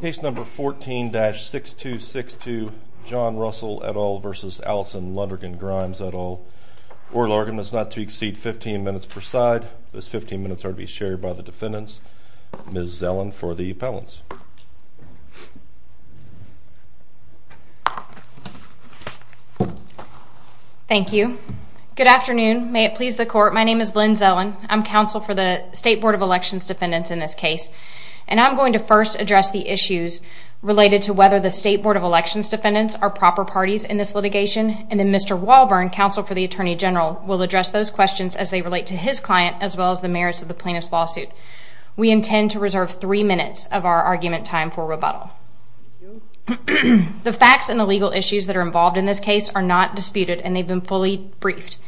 Case number 14-6262, John Russell et al. v. Allison Lundergan-Grimes et al. Oral arguments not to exceed 15 minutes per side. Those 15 minutes are to be shared by the defendants. Ms. Zellin for the appellants. Thank you. Good afternoon. May it please the court, my name is Lynn Zellin. I'm counsel for the State Board of Elections defendants in this case. And I'm going to first address the issues related to whether the State Board of Elections defendants are proper parties in this litigation. And then Mr. Walburn, counsel for the Attorney General, will address those questions as they relate to his client as well as the merits of the plaintiff's lawsuit. We intend to reserve three minutes of our argument time for rebuttal. The facts and the legal issues that are involved in this case are not disputed and they've been fully briefed.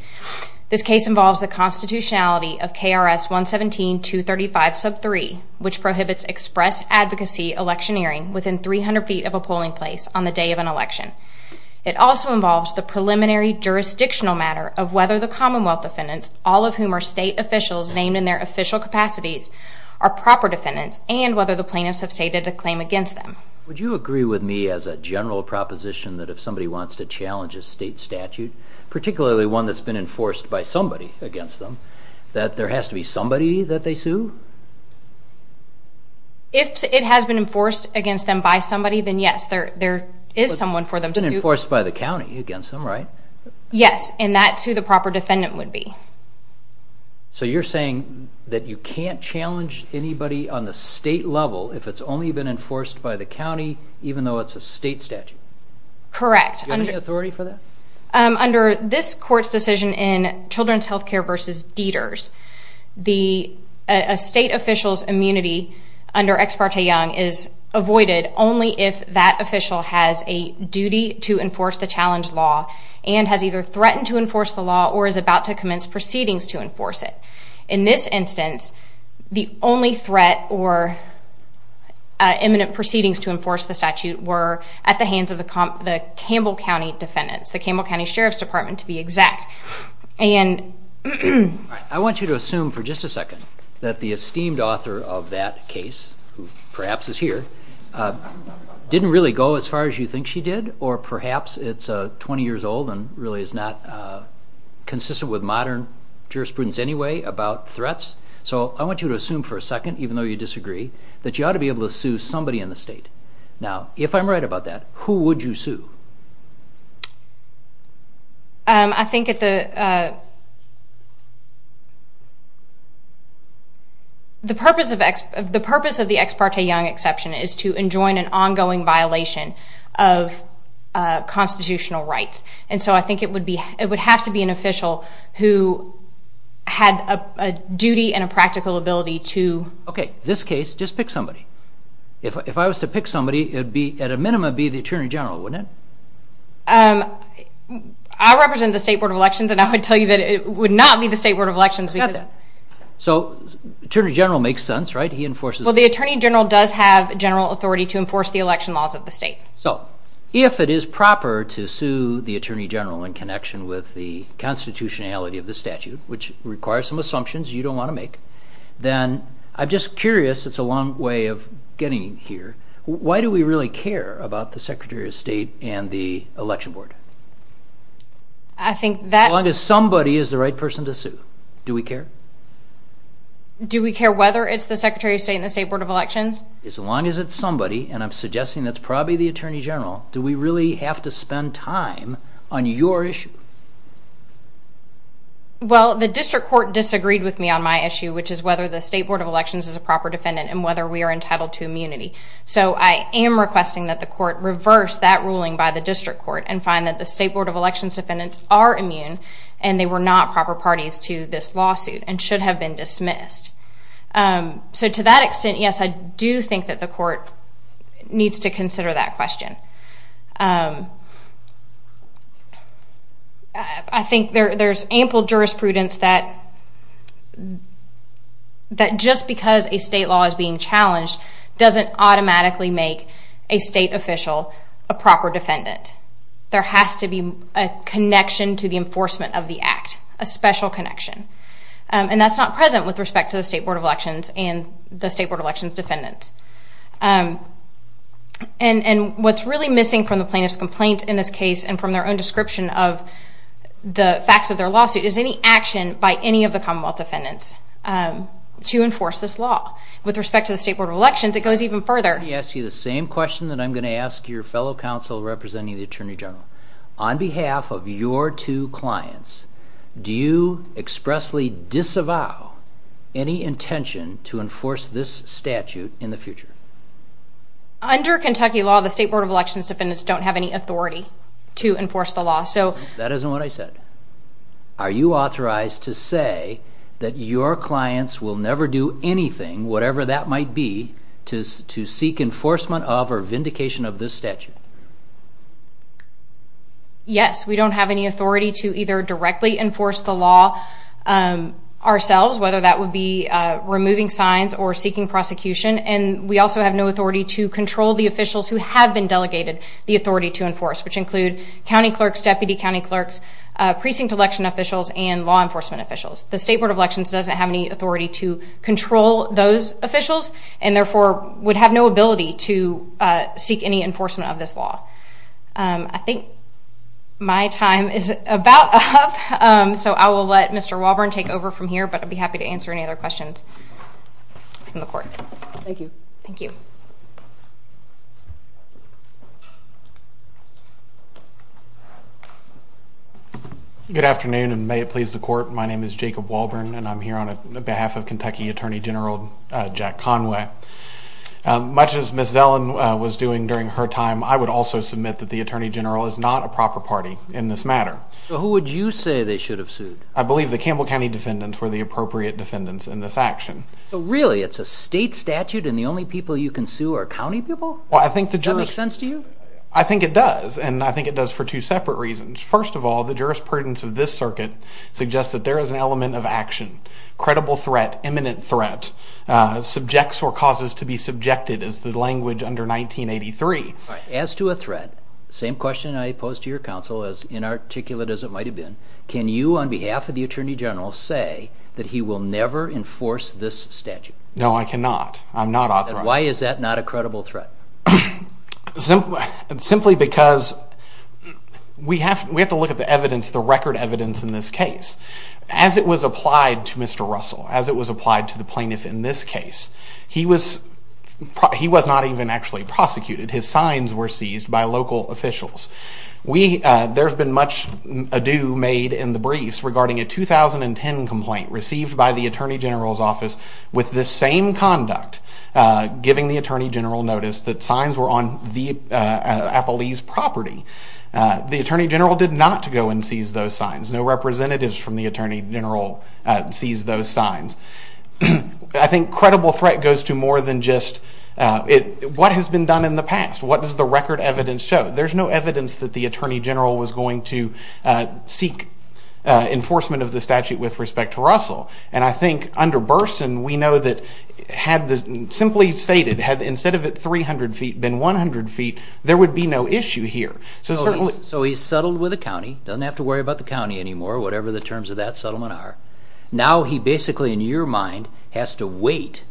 This case involves the constitutionality of KRS 117-235 sub 3, which prohibits express advocacy electioneering within 300 feet of a polling place on the day of an election. It also involves the preliminary jurisdictional matter of whether the Commonwealth defendants, all of whom are state officials named in their official capacities, are proper defendants and whether the plaintiffs have stated a claim against them. Would you agree with me as a general proposition that if somebody wants to challenge a state statute, particularly one that's been enforced by somebody against them, that there has to be somebody that they sue? If it has been enforced against them by somebody, then yes, there is someone for them to sue. But it's been enforced by the county against them, right? Yes, and that's who the proper defendant would be. So you're saying that you can't challenge anybody on the state level if it's only been enforced by the county even though it's a state statute? Correct. Do you have any authority for that? Under this court's decision in Children's Healthcare v. Dieters, a state official's immunity under Ex parte Young is avoided only if that official has a duty to enforce the challenge law and has either threatened to enforce the law or is about to commence proceedings to enforce it. In this instance, the only threat or imminent proceedings to enforce the statute were at the hands of the Campbell County defendants, the Campbell County Sheriff's Department to be exact. I want you to assume for just a second that the esteemed author of that case, who perhaps is here, didn't really go as far as you think she did or perhaps it's 20 years old and really is not consistent with modern jurisprudence anyway about threats. So I want you to assume for a second, even though you disagree, that you ought to be able to sue somebody in the state. Now, if I'm right about that, who would you sue? I think the purpose of the Ex parte Young exception is to enjoin an ongoing violation of constitutional rights. And so I think it would have to be an official who had a duty and a practical ability to... Okay, this case, just pick somebody. If I was to pick somebody, it would be, at a minimum, be the Attorney General, wouldn't it? I represent the State Board of Elections and I would tell you that it would not be the State Board of Elections because... I got that. So Attorney General makes sense, right? He enforces... Well, the Attorney General does have general authority to enforce the election laws of the state. So if it is proper to sue the Attorney General in connection with the constitutionality of the statute, which requires some assumptions you don't want to make, then I'm just curious, it's a long way of getting here, why do we really care about the Secretary of State and the Election Board? I think that... As long as somebody is the right person to sue, do we care? Do we care whether it's the Secretary of State and the State Board of Elections? As long as it's somebody, and I'm suggesting that's probably the Attorney General, do we really have to spend time on your issue? Well, the district court disagreed with me on my issue, which is whether the State Board of Elections is a proper defendant and whether we are entitled to immunity. So I am requesting that the court reverse that ruling by the district court and find that the State Board of Elections defendants are immune and they were not proper parties to this lawsuit and should have been dismissed. So to that extent, yes, I do think that the court needs to consider that question. I think there's ample jurisprudence that just because a state law is being challenged doesn't automatically make a state official a proper defendant. There has to be a connection to the enforcement of the act, a special connection. And that's not present with respect to the State Board of Elections and the State Board of Elections defendants. And what's really missing from the plaintiff's complaint in this case and from their own description of the facts of their lawsuit is any action by any of the Commonwealth defendants to enforce this law. With respect to the State Board of Elections, it goes even further. Let me ask you the same question that I'm going to ask your fellow counsel representing the Attorney General. On behalf of your two clients, do you expressly disavow any intention to enforce this statute in the future? Under Kentucky law, the State Board of Elections defendants don't have any authority to enforce the law. That isn't what I said. Are you authorized to say that your clients will never do anything, whatever that might be, to seek enforcement of or vindication of this statute? Yes, we don't have any authority to either directly enforce the law ourselves, whether that would be removing signs or seeking prosecution. And we also have no authority to control the officials who have been delegated the authority to enforce, which include county clerks, deputy county clerks, precinct election officials, and law enforcement officials. The State Board of Elections doesn't have any authority to control those officials and therefore would have no ability to seek any enforcement of this law. I think my time is about up, so I will let Mr. Walburn take over from here, but I'd be happy to answer any other questions from the court. Thank you. Thank you. Good afternoon, and may it please the court. My name is Jacob Walburn, and I'm here on behalf of Kentucky Attorney General Jack Conway. Much as Ms. Zellin was doing during her time, I would also submit that the Attorney General is not a proper party in this matter. So who would you say they should have sued? I believe the Campbell County defendants were the appropriate defendants in this action. So really, it's a state statute and the only people you can sue are county people? Well, I think the jurisdiction... Does that make sense to you? I think it does, and I think it does for two separate reasons. First of all, the jurisprudence of this circuit suggests that there is an element of action, credible threat, imminent threat, subjects or causes to be subjected is the language under 1983. As to a threat, same question I posed to your counsel, as inarticulate as it might have been, can you, on behalf of the Attorney General, say that he will never enforce this statute? No, I cannot. I'm not authorized. Then why is that not a credible threat? Simply because we have to look at the record evidence in this case. As it was applied to Mr. Russell, as it was applied to the plaintiff in this case, he was not even actually prosecuted. His signs were seized by local officials. There's been much ado made in the briefs regarding a 2010 complaint received by the Attorney General's office with the same conduct, giving the Attorney General notice that signs were on the Appalese property. The Attorney General did not go and seize those signs. No representatives from the Attorney General seized those signs. I think credible threat goes to more than just what has been done in the past. What does the record evidence show? There's no evidence that the Attorney General was going to seek enforcement of the statute with respect to Russell. I think under Burson, we know that, simply stated, had instead of it 300 feet been 100 feet, there would be no issue here. So he's settled with the county, doesn't have to worry about the county anymore, whatever the terms of that settlement are. Now he basically, in your mind, has to wait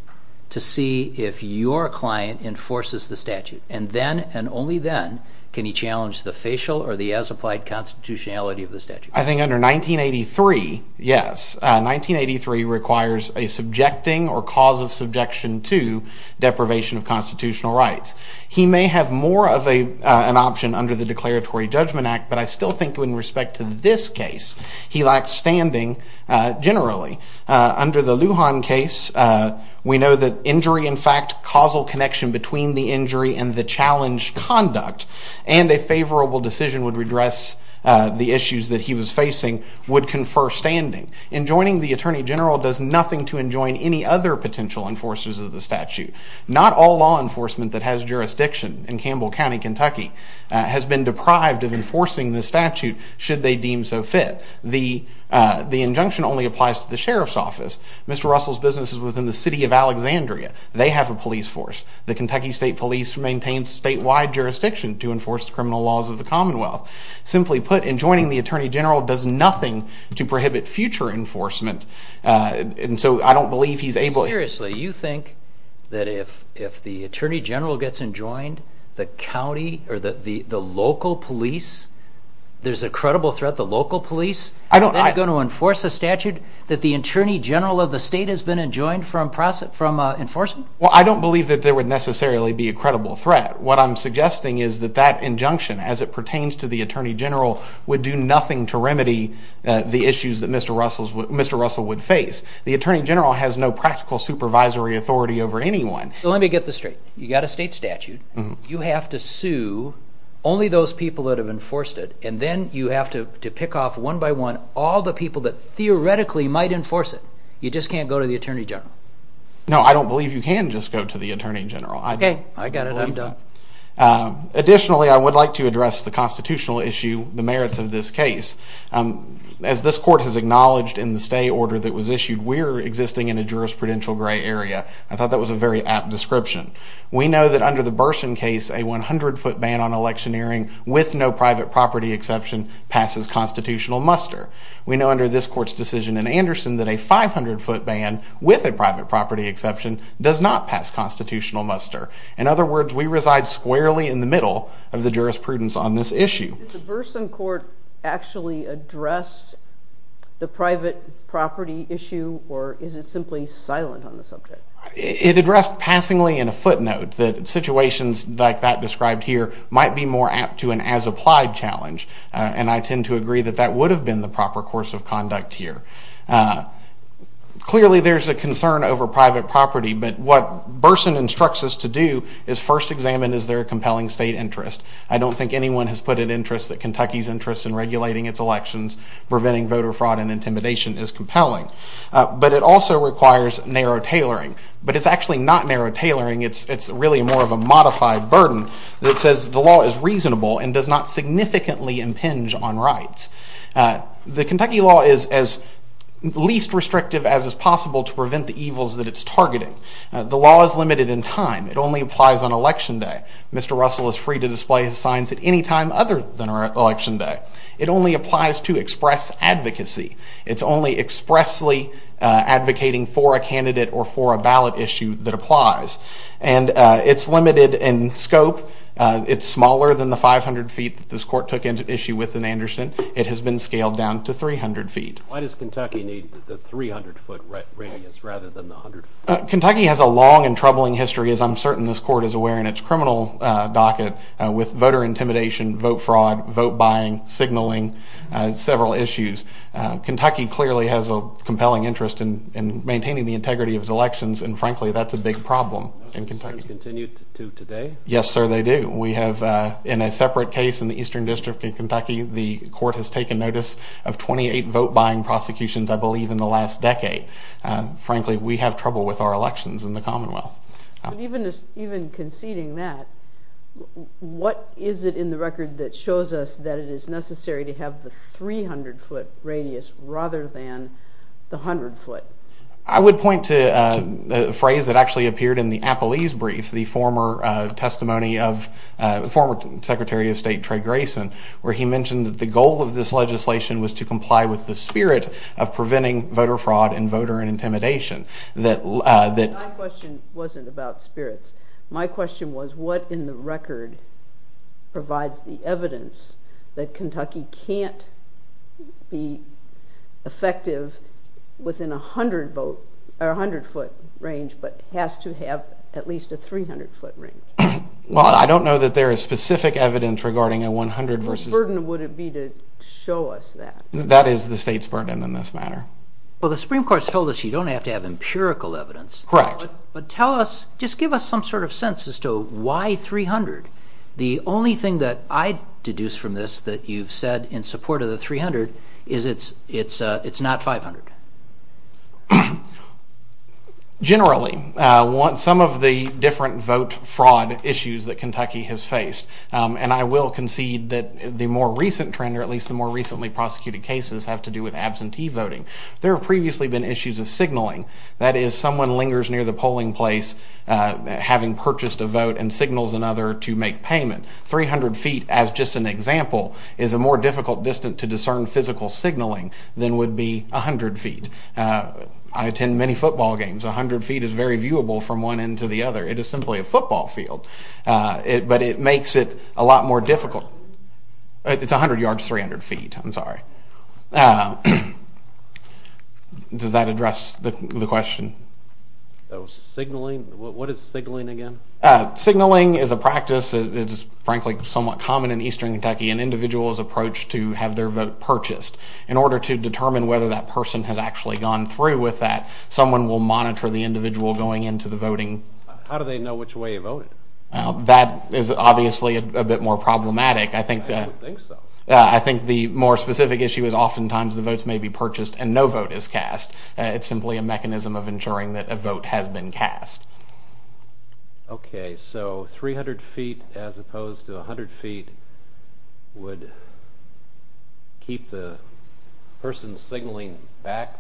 to see if your client enforces the statute. Then, and only then, can he challenge the facial or the as-applied constitutionality of the statute. I think under 1983, yes, 1983 requires a subjecting or cause of subjection to deprivation of constitutional rights. He may have more of an option under the Declaratory Judgment Act, but I still think in respect to this case, he lacks standing generally. Under the Lujan case, we know that injury, in fact, causal connection between the injury and the challenge conduct, and a favorable decision would redress the issues that he was facing, would confer standing. Enjoining the Attorney General does nothing to enjoin any other potential enforcers of the statute. Not all law enforcement that has jurisdiction in Campbell County, Kentucky, has been deprived of enforcing the statute, should they deem so fit. The injunction only applies to the Sheriff's Office. Mr. Russell's business is within the city of Alexandria. They have a police force. The Kentucky State Police maintains statewide jurisdiction to enforce the criminal laws of the Commonwealth. Simply put, enjoining the Attorney General does nothing to prohibit future enforcement, and so I don't believe he's able... Seriously, you think that if the Attorney General gets enjoined, the county or the local police, there's a credible threat the local police are then going to enforce a statute that the Attorney General of the state has been enjoined from enforcing? Well, I don't believe that there would necessarily be a credible threat. What I'm suggesting is that that injunction, as it pertains to the Attorney General, would do nothing to remedy the issues that Mr. Russell would face. The Attorney General has no practical supervisory authority over anyone. Let me get this straight. You've got a state statute. You have to sue only those people that have enforced it, and then you have to pick off one by one all the people that theoretically might enforce it. You just can't go to the Attorney General. No, I don't believe you can just go to the Attorney General. Okay, I got it. I'm done. Additionally, I would like to address the constitutional issue, the merits of this case. As this court has acknowledged in the stay order that was issued, we're existing in a jurisprudential gray area. I thought that was a very apt description. We know that under the Burson case, a 100-foot ban on electioneering, with no private property exception, passes constitutional muster. We know under this court's decision in Anderson that a 500-foot ban, with a private property exception, does not pass constitutional muster. In other words, we reside squarely in the middle of the jurisprudence on this issue. Does the Burson court actually address the private property issue, or is it simply silent on the subject? It addressed passingly in a footnote that situations like that described here might be more apt to an as-applied challenge, and I tend to agree that that would have been the proper course of conduct here. Clearly, there's a concern over private property, but what Burson instructs us to do is first examine, is there a compelling state interest? I don't think anyone has put an interest that Kentucky's interest in regulating its elections, preventing voter fraud and intimidation, is compelling. But it also requires narrow tailoring. But it's actually not narrow tailoring, it's really more of a modified burden that says the law is reasonable and does not significantly impinge on rights. The Kentucky law is as least restrictive as is possible to prevent the evils that it's targeting. The law is limited in time. It only applies on Election Day. Mr. Russell is free to display his signs at any time other than Election Day. It only applies to express advocacy. It's only expressly advocating for a candidate or for a ballot issue that applies. And it's limited in scope. It's smaller than the 500 feet that this court took issue with in Anderson. It has been scaled down to 300 feet. Why does Kentucky need the 300-foot radius rather than the 100 feet? Kentucky has a long and troubling history, as I'm certain this court is aware, in its criminal docket with voter intimidation, vote fraud, vote buying, signaling, several issues. Kentucky clearly has a compelling interest in maintaining the integrity of its elections, and frankly, that's a big problem in Kentucky. Those concerns continue to today? Yes, sir, they do. We have, in a separate case in the Eastern District of Kentucky, the court has taken notice of 28 vote buying prosecutions, I believe, in the last decade. Frankly, we have trouble with our elections in the Commonwealth. Even conceding that, what is it in the record that shows us that it is necessary to have the 300-foot radius rather than the 100 foot? I would point to a phrase that actually appeared in the Appellee's Brief, the former testimony of former Secretary of State Trey Grayson, where he mentioned that the goal of this legislation was to comply with the spirit of preventing voter fraud and voter intimidation. My question wasn't about spirits. My question was what in the record provides the evidence that Kentucky can't be effective within a 100-foot range but has to have at least a 300-foot range? Well, I don't know that there is specific evidence regarding a 100 versus... Whose burden would it be to show us that? That is the state's burden in this matter. Well, the Supreme Court's told us you don't have to have empirical evidence. Correct. But tell us, just give us some sort of sense as to why 300. The only thing that I deduce from this that you've said in support of the 300 is it's not 500. Generally, some of the different vote fraud issues that Kentucky has faced, and I will concede that the more recent trend or at least the more recently prosecuted cases have to do with absentee voting. There have previously been issues of signaling. That is, someone lingers near the polling place having purchased a vote and signals another to make payment. 300 feet, as just an example, is a more difficult distance to discern physical signaling than would be 100 feet. I attend many football games. 100 feet is very viewable from one end to the other. It is simply a football field. But it makes it a lot more difficult. It's 100 yards, 300 feet. I'm sorry. Does that address the question? So signaling, what is signaling again? Signaling is a practice that is, frankly, somewhat common in eastern Kentucky, an individual's approach to have their vote purchased. In order to determine whether that person has actually gone through with that, someone will monitor the individual going into the voting. How do they know which way he voted? That is obviously a bit more problematic. I don't think so. I think the more specific issue is oftentimes the votes may be purchased and no vote is cast. It's simply a mechanism of ensuring that a vote has been cast. Okay, so 300 feet as opposed to 100 feet would keep the person signaling back?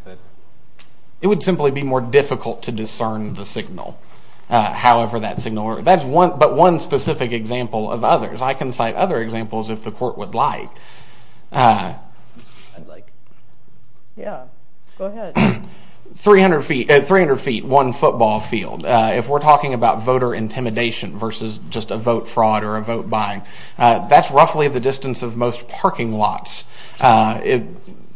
It would simply be more difficult to discern the signal, however that signal. That's but one specific example of others. I can cite other examples if the court would like. Yeah, go ahead. 300 feet, one football field. If we're talking about voter intimidation versus just a vote fraud or a vote buying, that's roughly the distance of most parking lots.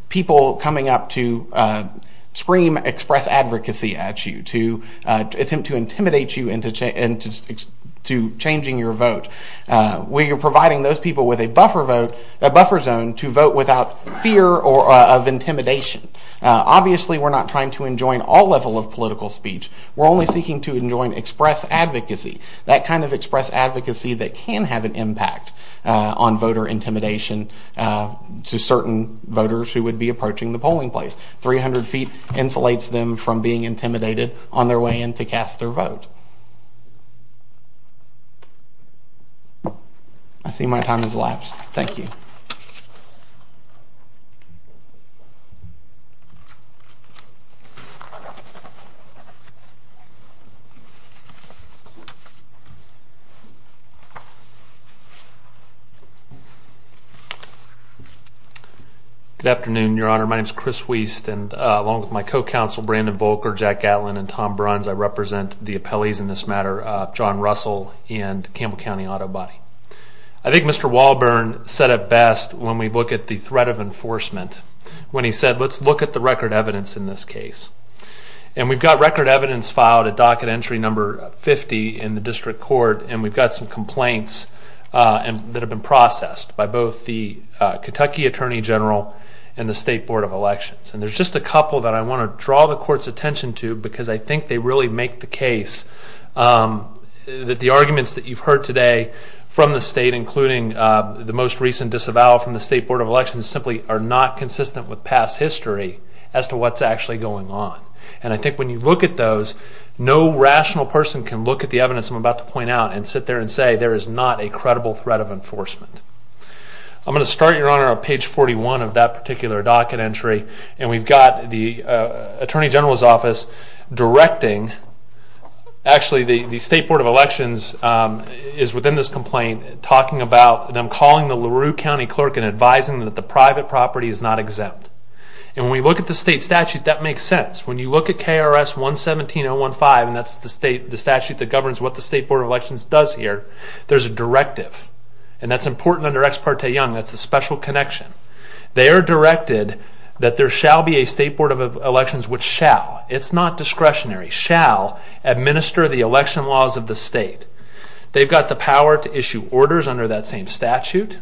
People coming up to scream express advocacy at you, to attempt to intimidate you into changing your vote. We are providing those people with a buffer zone to vote without fear of intimidation. Obviously, we're not trying to enjoin all level of political speech. We're only seeking to enjoin express advocacy, that kind of express advocacy that can have an impact on voter intimidation to certain voters who would be approaching the polling place. 300 feet insulates them from being intimidated on their way in to cast their vote. I see my time has elapsed. Thank you. Good afternoon, Your Honor. My name is Chris Wiest, and along with my co-counsel, Brandon Volker, Jack Gatlin, and Tom Bruns, I represent the appellees in this matter, John Russell and Campbell County Auto Body. I think Mr. Walburn said it best when we look at the threat of enforcement, when he said, let's look at the record evidence in this case. And we've got record evidence filed at docket entry number 50 in the district court, and we've got some complaints that have been processed by both the Kentucky Attorney General and the State Board of Elections. And there's just a couple that I want to draw the court's attention to because I think they really make the case that the arguments that you've heard today from the state, including the most recent disavowal from the State Board of Elections, simply are not consistent with past history as to what's actually going on. And I think when you look at those, no rational person can look at the evidence I'm about to point out and sit there and say there is not a credible threat of enforcement. I'm going to start, Your Honor, on page 41 of that particular docket entry, and we've got the Attorney General's office directing, actually the State Board of Elections is within this complaint, talking about them calling the LaRue County Clerk and advising them that the private property is not exempt. And when we look at the state statute, that makes sense. When you look at KRS 117015, and that's the statute that governs what the State Board of Elections does here, there's a directive, and that's important under Ex parte Young, that's a special connection. They are directed that there shall be a State Board of Elections which shall, it's not discretionary, shall administer the election laws of the state. They've got the power to issue orders under that same statute,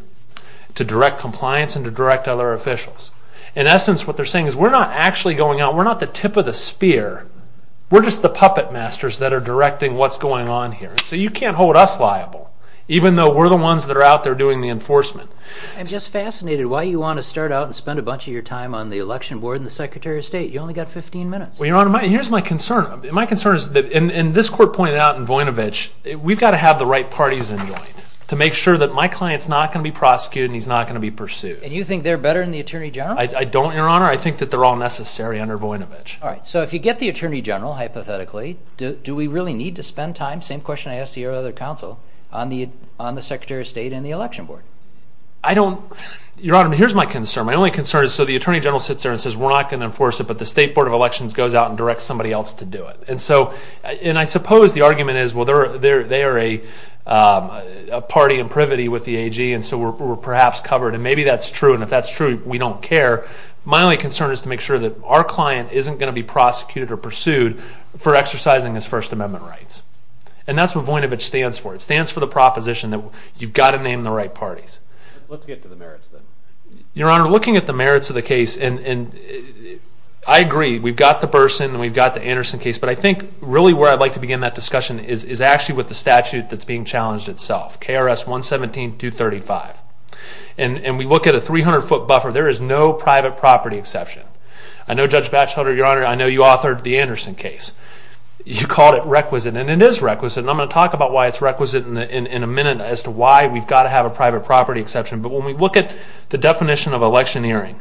to direct compliance and to direct other officials. In essence, what they're saying is we're not actually going out, we're not the tip of the spear, we're just the puppet masters that are directing what's going on here. So you can't hold us liable, even though we're the ones that are out there doing the enforcement. I'm just fascinated why you want to start out and spend a bunch of your time on the election board and the Secretary of State. You've only got 15 minutes. Well, Your Honor, here's my concern. My concern is that, and this court pointed out in Voinovich, we've got to have the right parties in joint to make sure that my client's not going to be prosecuted and he's not going to be pursued. And you think they're better than the Attorney General? I don't, Your Honor. I think that they're all necessary under Voinovich. All right. So if you get the Attorney General, hypothetically, do we really need to spend time, same question I asked your other counsel, on the Secretary of State and the election board? I don't, Your Honor, but here's my concern. My only concern is so the Attorney General sits there and says we're not going to enforce it, but the State Board of Elections goes out and directs somebody else to do it. And so, and I suppose the argument is, well, they are a party in privity with the AG, and so we're perhaps covered, and maybe that's true, and if that's true, we don't care. My only concern is to make sure that our client isn't going to be prosecuted or pursued for exercising his First Amendment rights. And that's what Voinovich stands for. It stands for the proposition that you've got to name the right parties. Let's get to the merits then. Your Honor, looking at the merits of the case, and I agree, we've got the Burson and we've got the Anderson case, but I think really where I'd like to begin that discussion is actually with the statute that's being challenged itself, KRS 117.235. And we look at a 300-foot buffer. There is no private property exception. I know, Judge Batchelder, Your Honor, I know you authored the Anderson case. You called it requisite, and it is requisite, and I'm going to talk about why it's requisite in a minute as to why we've got to have a private property exception. But when we look at the definition of electioneering,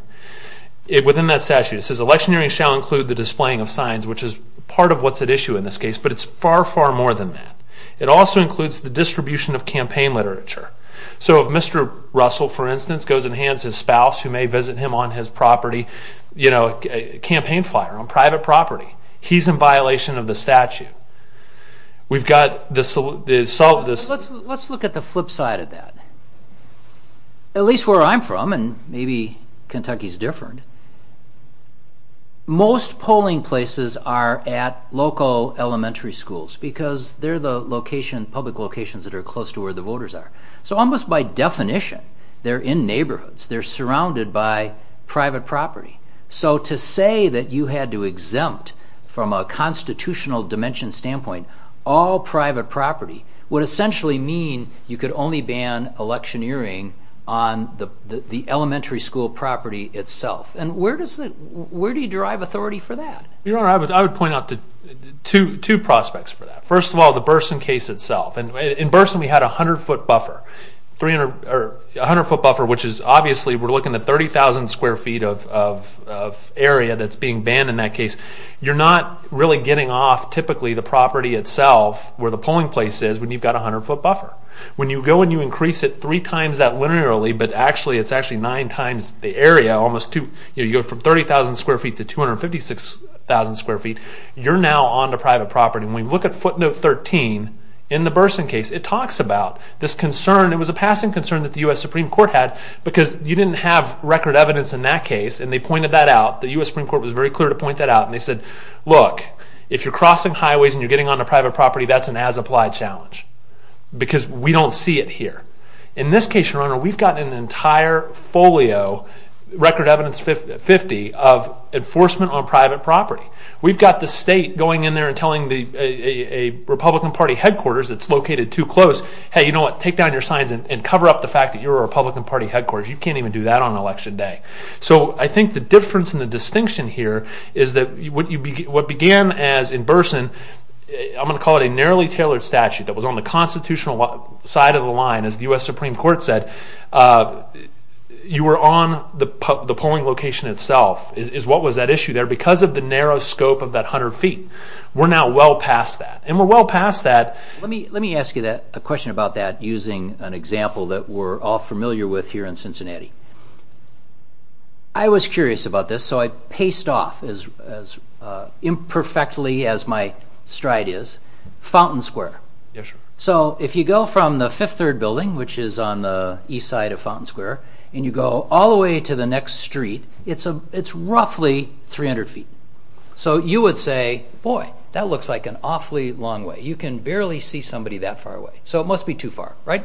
within that statute, it says, electioneering shall include the displaying of signs, which is part of what's at issue in this case, but it's far, far more than that. It also includes the distribution of campaign literature. So if Mr. Russell, for instance, goes and hands his spouse, who may visit him on his property, you know, a campaign flyer on private property, he's in violation of the statute. We've got this... Let's look at the flip side of that. At least where I'm from, and maybe Kentucky's different, most polling places are at local elementary schools because they're the public locations that are close to where the voters are. So almost by definition, they're in neighborhoods. They're surrounded by private property. So to say that you had to exempt from a constitutional dimension standpoint all private property would essentially mean you could only ban electioneering on the elementary school property itself. And where do you drive authority for that? Your Honor, I would point out two prospects for that. First of all, the Burson case itself. In Burson, we had a 100-foot buffer, which is obviously we're looking at 30,000 square feet of area that's being banned in that case. You're not really getting off typically the property itself, where the polling place is, when you've got a 100-foot buffer. When you go and you increase it three times that linearly, but it's actually nine times the area, you go from 30,000 square feet to 256,000 square feet, you're now on to private property. When we look at footnote 13 in the Burson case, it talks about this concern. It was a passing concern that the U.S. Supreme Court had because you didn't have record evidence in that case, and they pointed that out. The U.S. Supreme Court was very clear to point that out, and they said, look, if you're crossing highways and you're getting on to private property, that's an as-applied challenge because we don't see it here. In this case, Your Honor, we've got an entire folio, record evidence 50, of enforcement on private property. We've got the state going in there and telling a Republican Party headquarters that's located too close, hey, you know what, take down your signs and cover up the fact that you're a Republican Party headquarters. You can't even do that on Election Day. So I think the difference and the distinction here is that what began as in Burson, I'm going to call it a narrowly tailored statute that was on the constitutional side of the line, as the U.S. Supreme Court said, you were on the polling location itself is what was that issue there because of the narrow scope of that 100 feet. We're now well past that, and we're well past that. Let me ask you a question about that using an example that we're all familiar with here in Cincinnati. I was curious about this, so I paced off as imperfectly as my stride is. Fountain Square. Yes, sir. So if you go from the fifth-third building, which is on the east side of Fountain Square, and you go all the way to the next street, it's roughly 300 feet. So you would say, boy, that looks like an awfully long way. You can barely see somebody that far away. So it must be too far, right?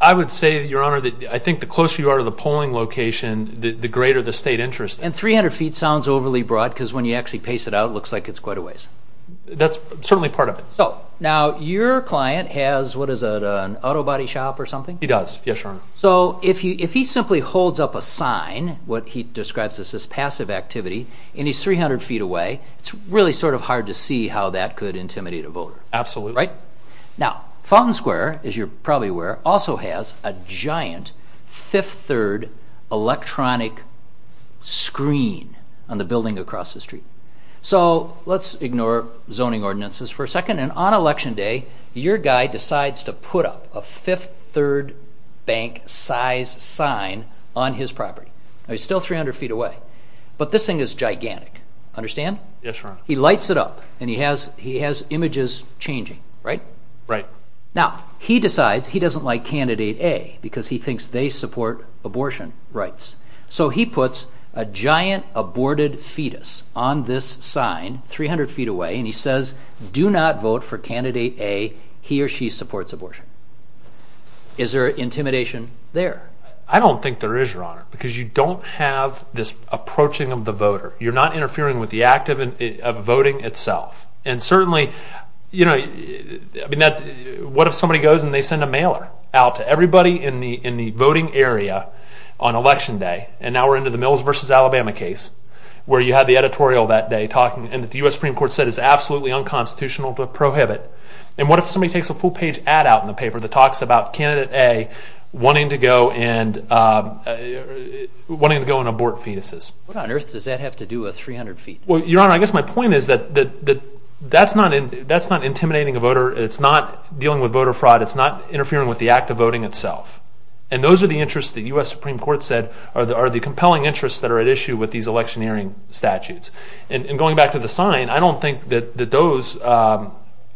I would say, Your Honor, that I think the closer you are to the polling location, the greater the state interest. And 300 feet sounds overly broad because when you actually pace it out, it looks like it's quite a ways. That's certainly part of it. Now, your client has, what is it, an auto body shop or something? He does, yes, Your Honor. So if he simply holds up a sign, what he describes as his passive activity, and he's 300 feet away, it's really sort of hard to see how that could intimidate a voter. Absolutely. Now, Fountain Square, as you're probably aware, also has a giant fifth-third electronic screen on the building across the street. So let's ignore zoning ordinances for a second. And on Election Day, your guy decides to put up a fifth-third bank size sign on his property. He's still 300 feet away. But this thing is gigantic. Understand? Yes, Your Honor. He lights it up, and he has images changing, right? Right. Now, he decides he doesn't like Candidate A because he thinks they support abortion rights. So he puts a giant aborted fetus on this sign 300 feet away, and he says, do not vote for Candidate A. He or she supports abortion. Is there intimidation there? I don't think there is, Your Honor, because you don't have this approaching of the voter. You're not interfering with the act of voting itself. And certainly, what if somebody goes and they send a mailer out to everybody in the voting area on Election Day, and now we're into the Mills v. Alabama case where you had the editorial that day and the U.S. Supreme Court said it's absolutely unconstitutional to prohibit. And what if somebody takes a full-page ad out in the paper that talks about Candidate A wanting to go and abort fetuses? What on earth does that have to do with 300 feet? Well, Your Honor, I guess my point is that that's not intimidating a voter. It's not dealing with voter fraud. It's not interfering with the act of voting itself. And those are the interests the U.S. Supreme Court said are the compelling interests that are at issue with these electioneering statutes. And going back to the sign, I don't think that those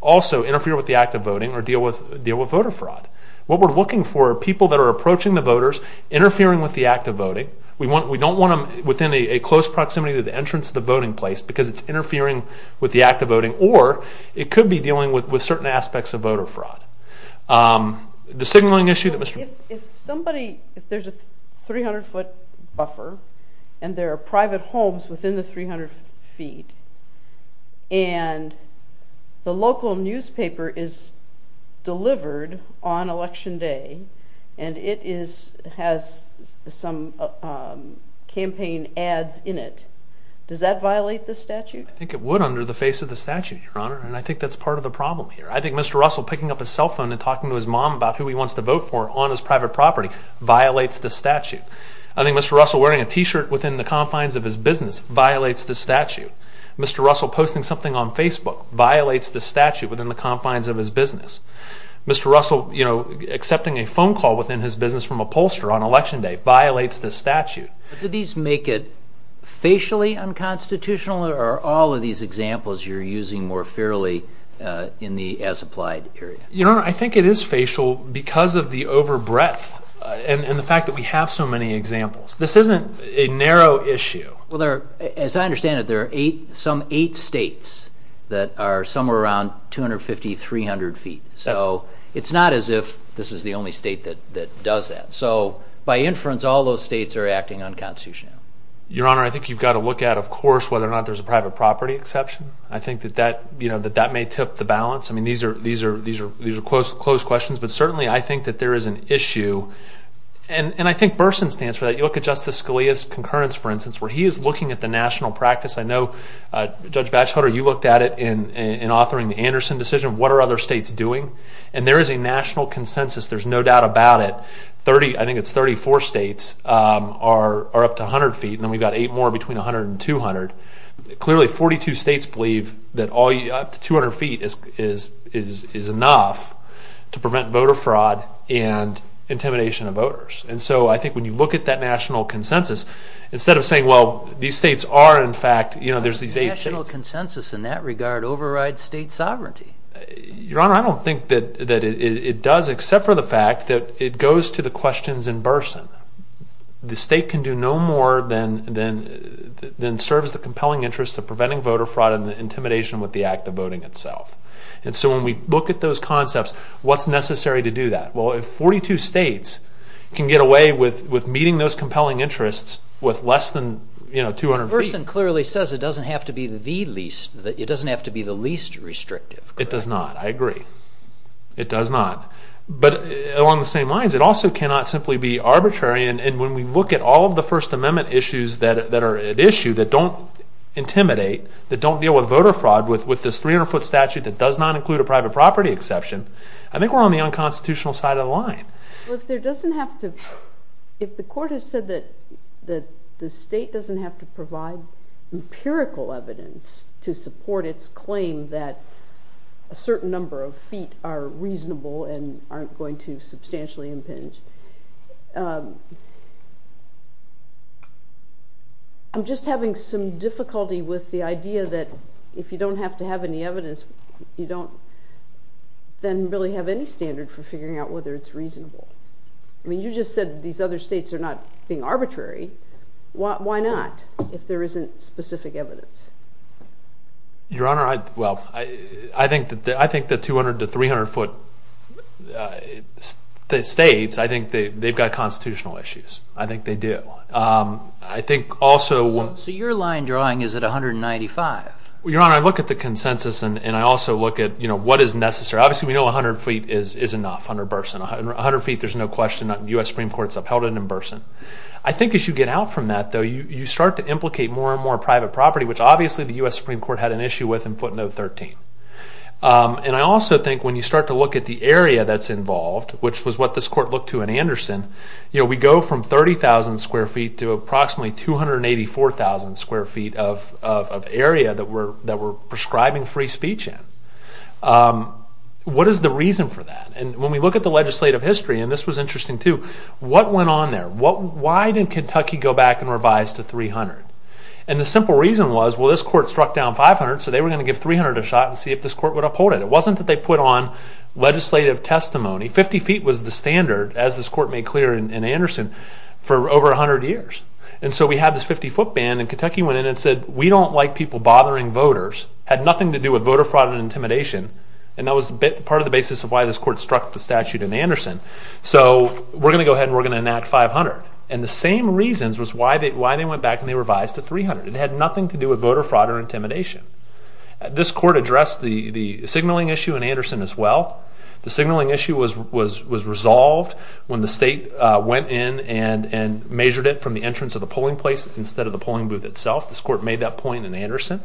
also interfere with the act of voting or deal with voter fraud. What we're looking for are people that are approaching the voters, interfering with the act of voting. We don't want them within a close proximity to the entrance of the voting place because it's interfering with the act of voting, or it could be dealing with certain aspects of voter fraud. The signaling issue that Mr. If somebody, if there's a 300-foot buffer and there are private homes within the 300 feet and the local newspaper is delivered on Election Day and it has some campaign ads in it, does that violate the statute? I think it would under the face of the statute, Your Honor, and I think that's part of the problem here. I think Mr. Russell picking up his cell phone and talking to his mom about who he wants to vote for on his private property violates the statute. I think Mr. Russell wearing a T-shirt within the confines of his business violates the statute. Mr. Russell posting something on Facebook violates the statute within the confines of his business. Mr. Russell accepting a phone call within his business from a pollster on Election Day violates the statute. Do these make it facially unconstitutional, or are all of these examples you're using more fairly in the as-applied area? Your Honor, I think it is facial because of the over breadth and the fact that we have so many examples. This isn't a narrow issue. Well, as I understand it, there are some eight states that are somewhere around 250, 300 feet. So it's not as if this is the only state that does that. So by inference, all those states are acting unconstitutionally. Your Honor, I think you've got to look at, of course, whether or not there's a private property exception. I think that that may tip the balance. I mean, these are closed questions, but certainly I think that there is an issue. And I think Burson stands for that. You look at Justice Scalia's concurrence, for instance, where he is looking at the national practice. I know, Judge Batchelder, you looked at it in authoring the Anderson decision. What are other states doing? And there is a national consensus. There's no doubt about it. I think it's 34 states are up to 100 feet, and then we've got eight more between 100 and 200. Clearly, 42 states believe that up to 200 feet is enough to prevent voter fraud and intimidation of voters. And so I think when you look at that national consensus, instead of saying, well, these states are in fact, you know, there's these eight states. A national consensus in that regard overrides state sovereignty. Your Honor, I don't think that it does, except for the fact that it goes to the questions in Burson. The state can do no more than serves the compelling interest of preventing voter fraud and intimidation with the act of voting itself. And so when we look at those concepts, what's necessary to do that? Well, if 42 states can get away with meeting those compelling interests with less than, you know, 200 feet. Burson clearly says it doesn't have to be the least restrictive. It does not. I agree. It does not. But along the same lines, it also cannot simply be arbitrary. And when we look at all of the First Amendment issues that are at issue that don't intimidate, that don't deal with voter fraud with this 300-foot statute that does not include a private property exception, I think we're on the unconstitutional side of the line. Well, if there doesn't have to – if the court has said that the state doesn't have to provide empirical evidence to support its claim that a certain number of feet are reasonable and aren't going to substantially impinge, I'm just having some difficulty with the idea that if you don't have to have any evidence, you don't then really have any standard for figuring out whether it's reasonable. I mean, you just said these other states are not being arbitrary. Why not if there isn't specific evidence? Your Honor, well, I think the 200- to 300-foot states, I think they've got constitutional issues. I think they do. I think also – So your line drawing is at 195. Well, Your Honor, I look at the consensus and I also look at what is necessary. Obviously, we know 100 feet is enough, 100 Burson. 100 feet, there's no question. The U.S. Supreme Court's upheld it in Burson. I think as you get out from that, though, you start to implicate more and more private property, which obviously the U.S. Supreme Court had an issue with in footnote 13. And I also think when you start to look at the area that's involved, which was what this court looked to in Anderson, we go from 30,000 square feet to approximately 284,000 square feet of area that we're prescribing free speech in. What is the reason for that? And when we look at the legislative history, and this was interesting too, what went on there? Why did Kentucky go back and revise to 300? And the simple reason was, well, this court struck down 500, so they were going to give 300 a shot and see if this court would uphold it. It wasn't that they put on legislative testimony. 50 feet was the standard, as this court made clear in Anderson, for over 100 years. And so we had this 50-foot ban, and Kentucky went in and said, we don't like people bothering voters. It had nothing to do with voter fraud and intimidation, and that was part of the basis of why this court struck the statute in Anderson. So we're going to go ahead and we're going to enact 500. And the same reasons was why they went back and they revised to 300. It had nothing to do with voter fraud or intimidation. This court addressed the signaling issue in Anderson as well. The signaling issue was resolved when the state went in and measured it from the entrance of the polling place instead of the polling booth itself. This court made that point in Anderson.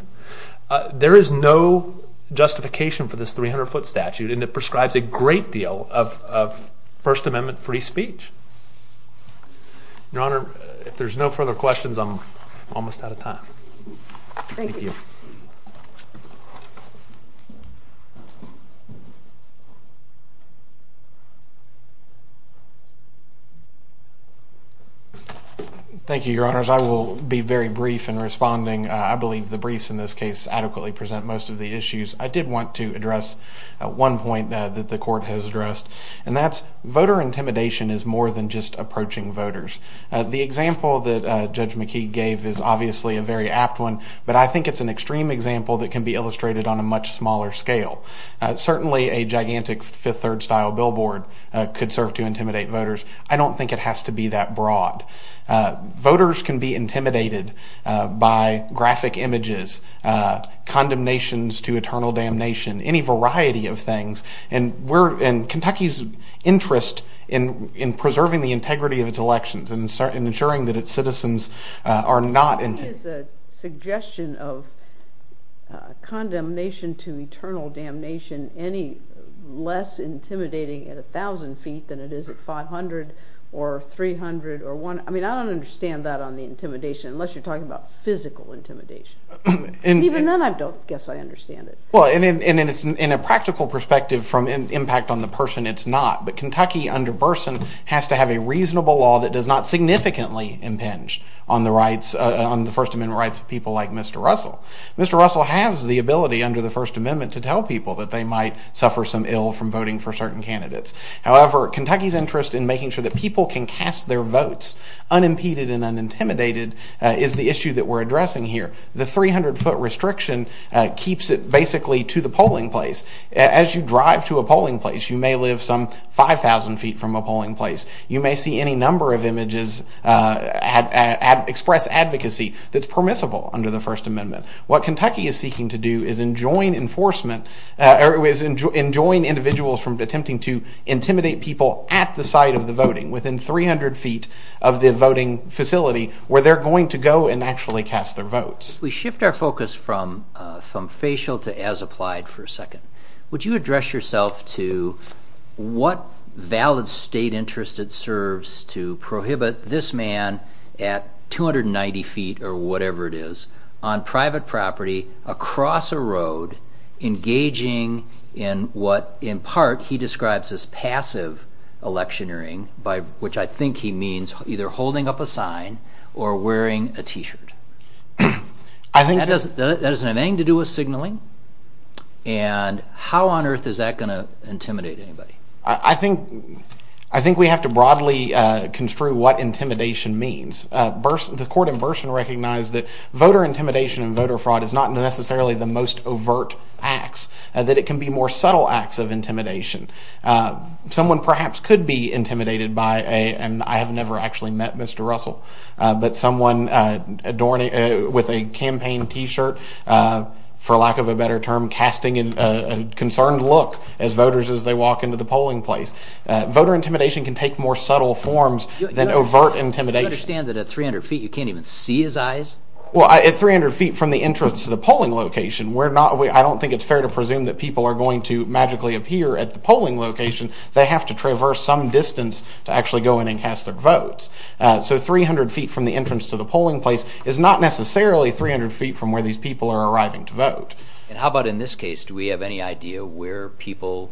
There is no justification for this 300-foot statute, and it prescribes a great deal of First Amendment free speech. Your Honor, if there's no further questions, I'm almost out of time. Thank you. Thank you, Your Honors. I will be very brief in responding. I believe the briefs in this case adequately present most of the issues. I did want to address one point that the court has addressed, and that's voter intimidation is more than just approaching voters. The example that Judge McKee gave is obviously a very apt one, but I think it's an extreme example that can be illustrated on a much smaller scale. Certainly a gigantic Fifth Third style billboard could serve to intimidate voters. I don't think it has to be that broad. Voters can be intimidated by graphic images, condemnations to eternal damnation, any variety of things, and Kentucky's interest in preserving the integrity of its elections and ensuring that its citizens are not intimidated. Is a suggestion of condemnation to eternal damnation any less intimidating at 1,000 feet than it is at 500 or 300 or 1? I mean, I don't understand that on the intimidation, unless you're talking about physical intimidation. Even then, I don't guess I understand it. Well, and in a practical perspective from an impact on the person, it's not. But Kentucky under Burson has to have a reasonable law that does not significantly impinge on the rights, on the First Amendment rights of people like Mr. Russell. Mr. Russell has the ability under the First Amendment to tell people that they might suffer some ill from voting for certain candidates. However, Kentucky's interest in making sure that people can cast their votes unimpeded and unintimidated is the issue that we're addressing here. The 300-foot restriction keeps it basically to the polling place. As you drive to a polling place, you may live some 5,000 feet from a polling place. You may see any number of images express advocacy that's permissible under the First Amendment. What Kentucky is seeking to do is enjoin enforcement, or is enjoin individuals from attempting to intimidate people at the site of the voting, within 300 feet of the voting facility, where they're going to go and actually cast their votes. If we shift our focus from facial to as applied for a second, would you address yourself to what valid state interest it serves to prohibit this man at 290 feet or whatever it is, on private property, across a road, engaging in what, in part, he describes as passive electioneering, by which I think he means either holding up a sign or wearing a t-shirt. That doesn't have anything to do with signaling, and how on earth is that going to intimidate anybody? I think we have to broadly construe what intimidation means. The court in Burson recognized that voter intimidation and voter fraud is not necessarily the most overt acts, that it can be more subtle acts of intimidation. Someone perhaps could be intimidated by a, and I have never actually met Mr. Russell, but someone with a campaign t-shirt, for lack of a better term, casting a concerned look at voters as they walk into the polling place. Voter intimidation can take more subtle forms than overt intimidation. Do you understand that at 300 feet you can't even see his eyes? Well, at 300 feet from the entrance to the polling location, I don't think it's fair to presume that people are going to magically appear at the polling location. They have to traverse some distance to actually go in and cast their votes. So 300 feet from the entrance to the polling place is not necessarily 300 feet from where these people are arriving to vote. How about in this case? Do we have any idea where people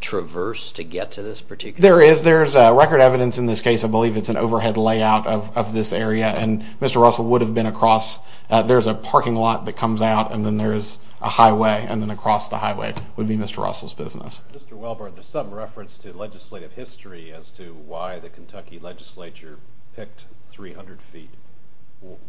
traverse to get to this particular place? There is. There is record evidence in this case. I believe it's an overhead layout of this area, and Mr. Russell would have been across. There's a parking lot that comes out, and then there's a highway, and then across the highway would be Mr. Russell's business. Mr. Welbard, there's some reference to legislative history as to why the Kentucky legislature picked 300 feet.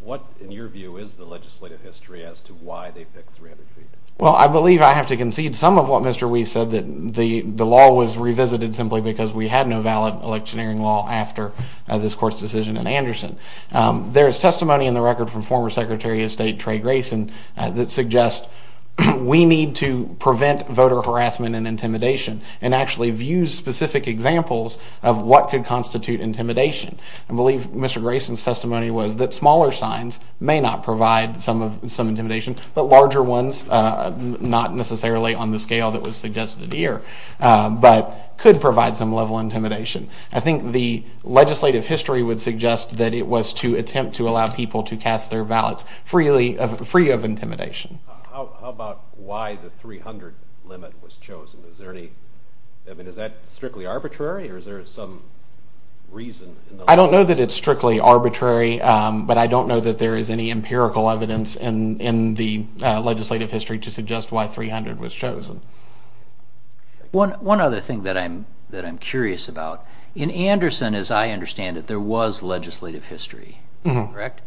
What, in your view, is the legislative history as to why they picked 300 feet? Well, I believe I have to concede some of what Mr. Weiss said, that the law was revisited simply because we had no valid electioneering law after this court's decision in Anderson. There is testimony in the record from former Secretary of State Trey Grayson that suggests we need to prevent voter harassment and intimidation and actually views specific examples of what could constitute intimidation. I believe Mr. Grayson's testimony was that smaller signs may not provide some intimidation, but larger ones, not necessarily on the scale that was suggested here, but could provide some level of intimidation. I think the legislative history would suggest that it was to attempt to allow people to cast their ballots free of intimidation. How about why the 300 limit was chosen? Is that strictly arbitrary, or is there some reason? I don't know that it's strictly arbitrary, but I don't know that there is any empirical evidence in the legislative history to suggest why 300 was chosen. One other thing that I'm curious about, in Anderson, as I understand it, there was legislative history, correct?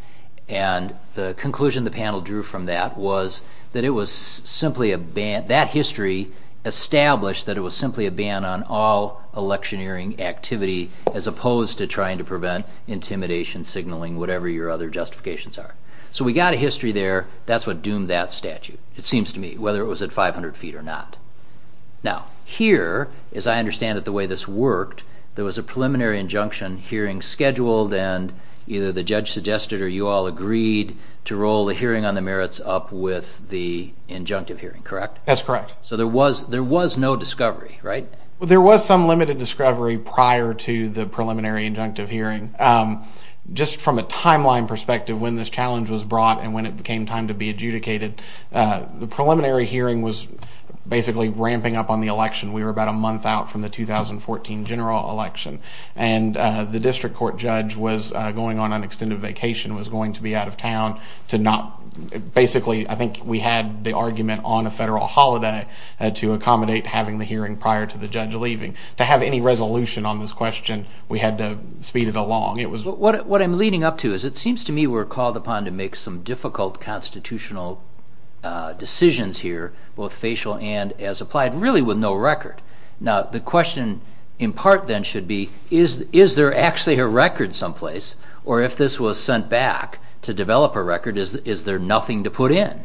And the conclusion the panel drew from that was that it was simply a ban, that history established that it was simply a ban on all electioneering activity as opposed to trying to prevent intimidation, signaling, whatever your other justifications are. So we got a history there. That's what doomed that statute, it seems to me, whether it was at 500 feet or not. Now, here, as I understand it, the way this worked, there was a preliminary injunction hearing scheduled, and either the judge suggested or you all agreed to roll the hearing on the merits up with the injunctive hearing, correct? That's correct. So there was no discovery, right? Well, there was some limited discovery prior to the preliminary injunctive hearing. Just from a timeline perspective, when this challenge was brought and when it became time to be adjudicated, the preliminary hearing was basically ramping up on the election. We were about a month out from the 2014 general election, and the district court judge was going on an extended vacation, was going to be out of town to not, basically, I think we had the argument on a federal holiday to accommodate having the hearing prior to the judge leaving. To have any resolution on this question, we had to speed it along. What I'm leading up to is it seems to me we're called upon to make some difficult constitutional decisions here, both facial and as applied, really with no record. Now, the question in part, then, should be, is there actually a record someplace, or if this was sent back to develop a record, is there nothing to put in?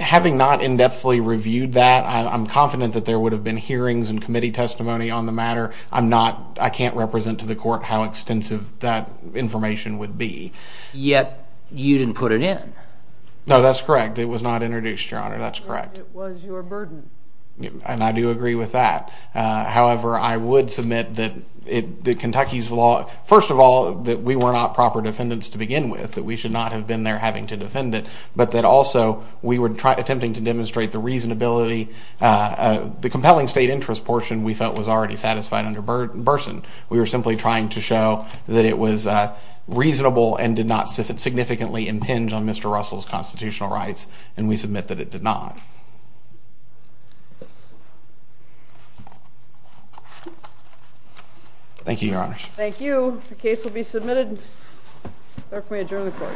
Having not in-depthly reviewed that, I'm confident that there would have been hearings and committee testimony on the matter. I'm not, I can't represent to the court how extensive that information would be. Yet, you didn't put it in. No, that's correct. It was not introduced, Your Honor. That's correct. It was your burden. And I do agree with that. However, I would submit that Kentucky's law, first of all, that we were not proper defendants to begin with, that we should not have been there having to defend it, but that also we were attempting to demonstrate the reasonability, the compelling state interest portion we felt was already satisfied under Burson. We were simply trying to show that it was reasonable and did not significantly impinge on Mr. Russell's constitutional rights, and we submit that it did not. Thank you, Your Honors. Thank you. The case will be submitted. Therefore, we adjourn the court.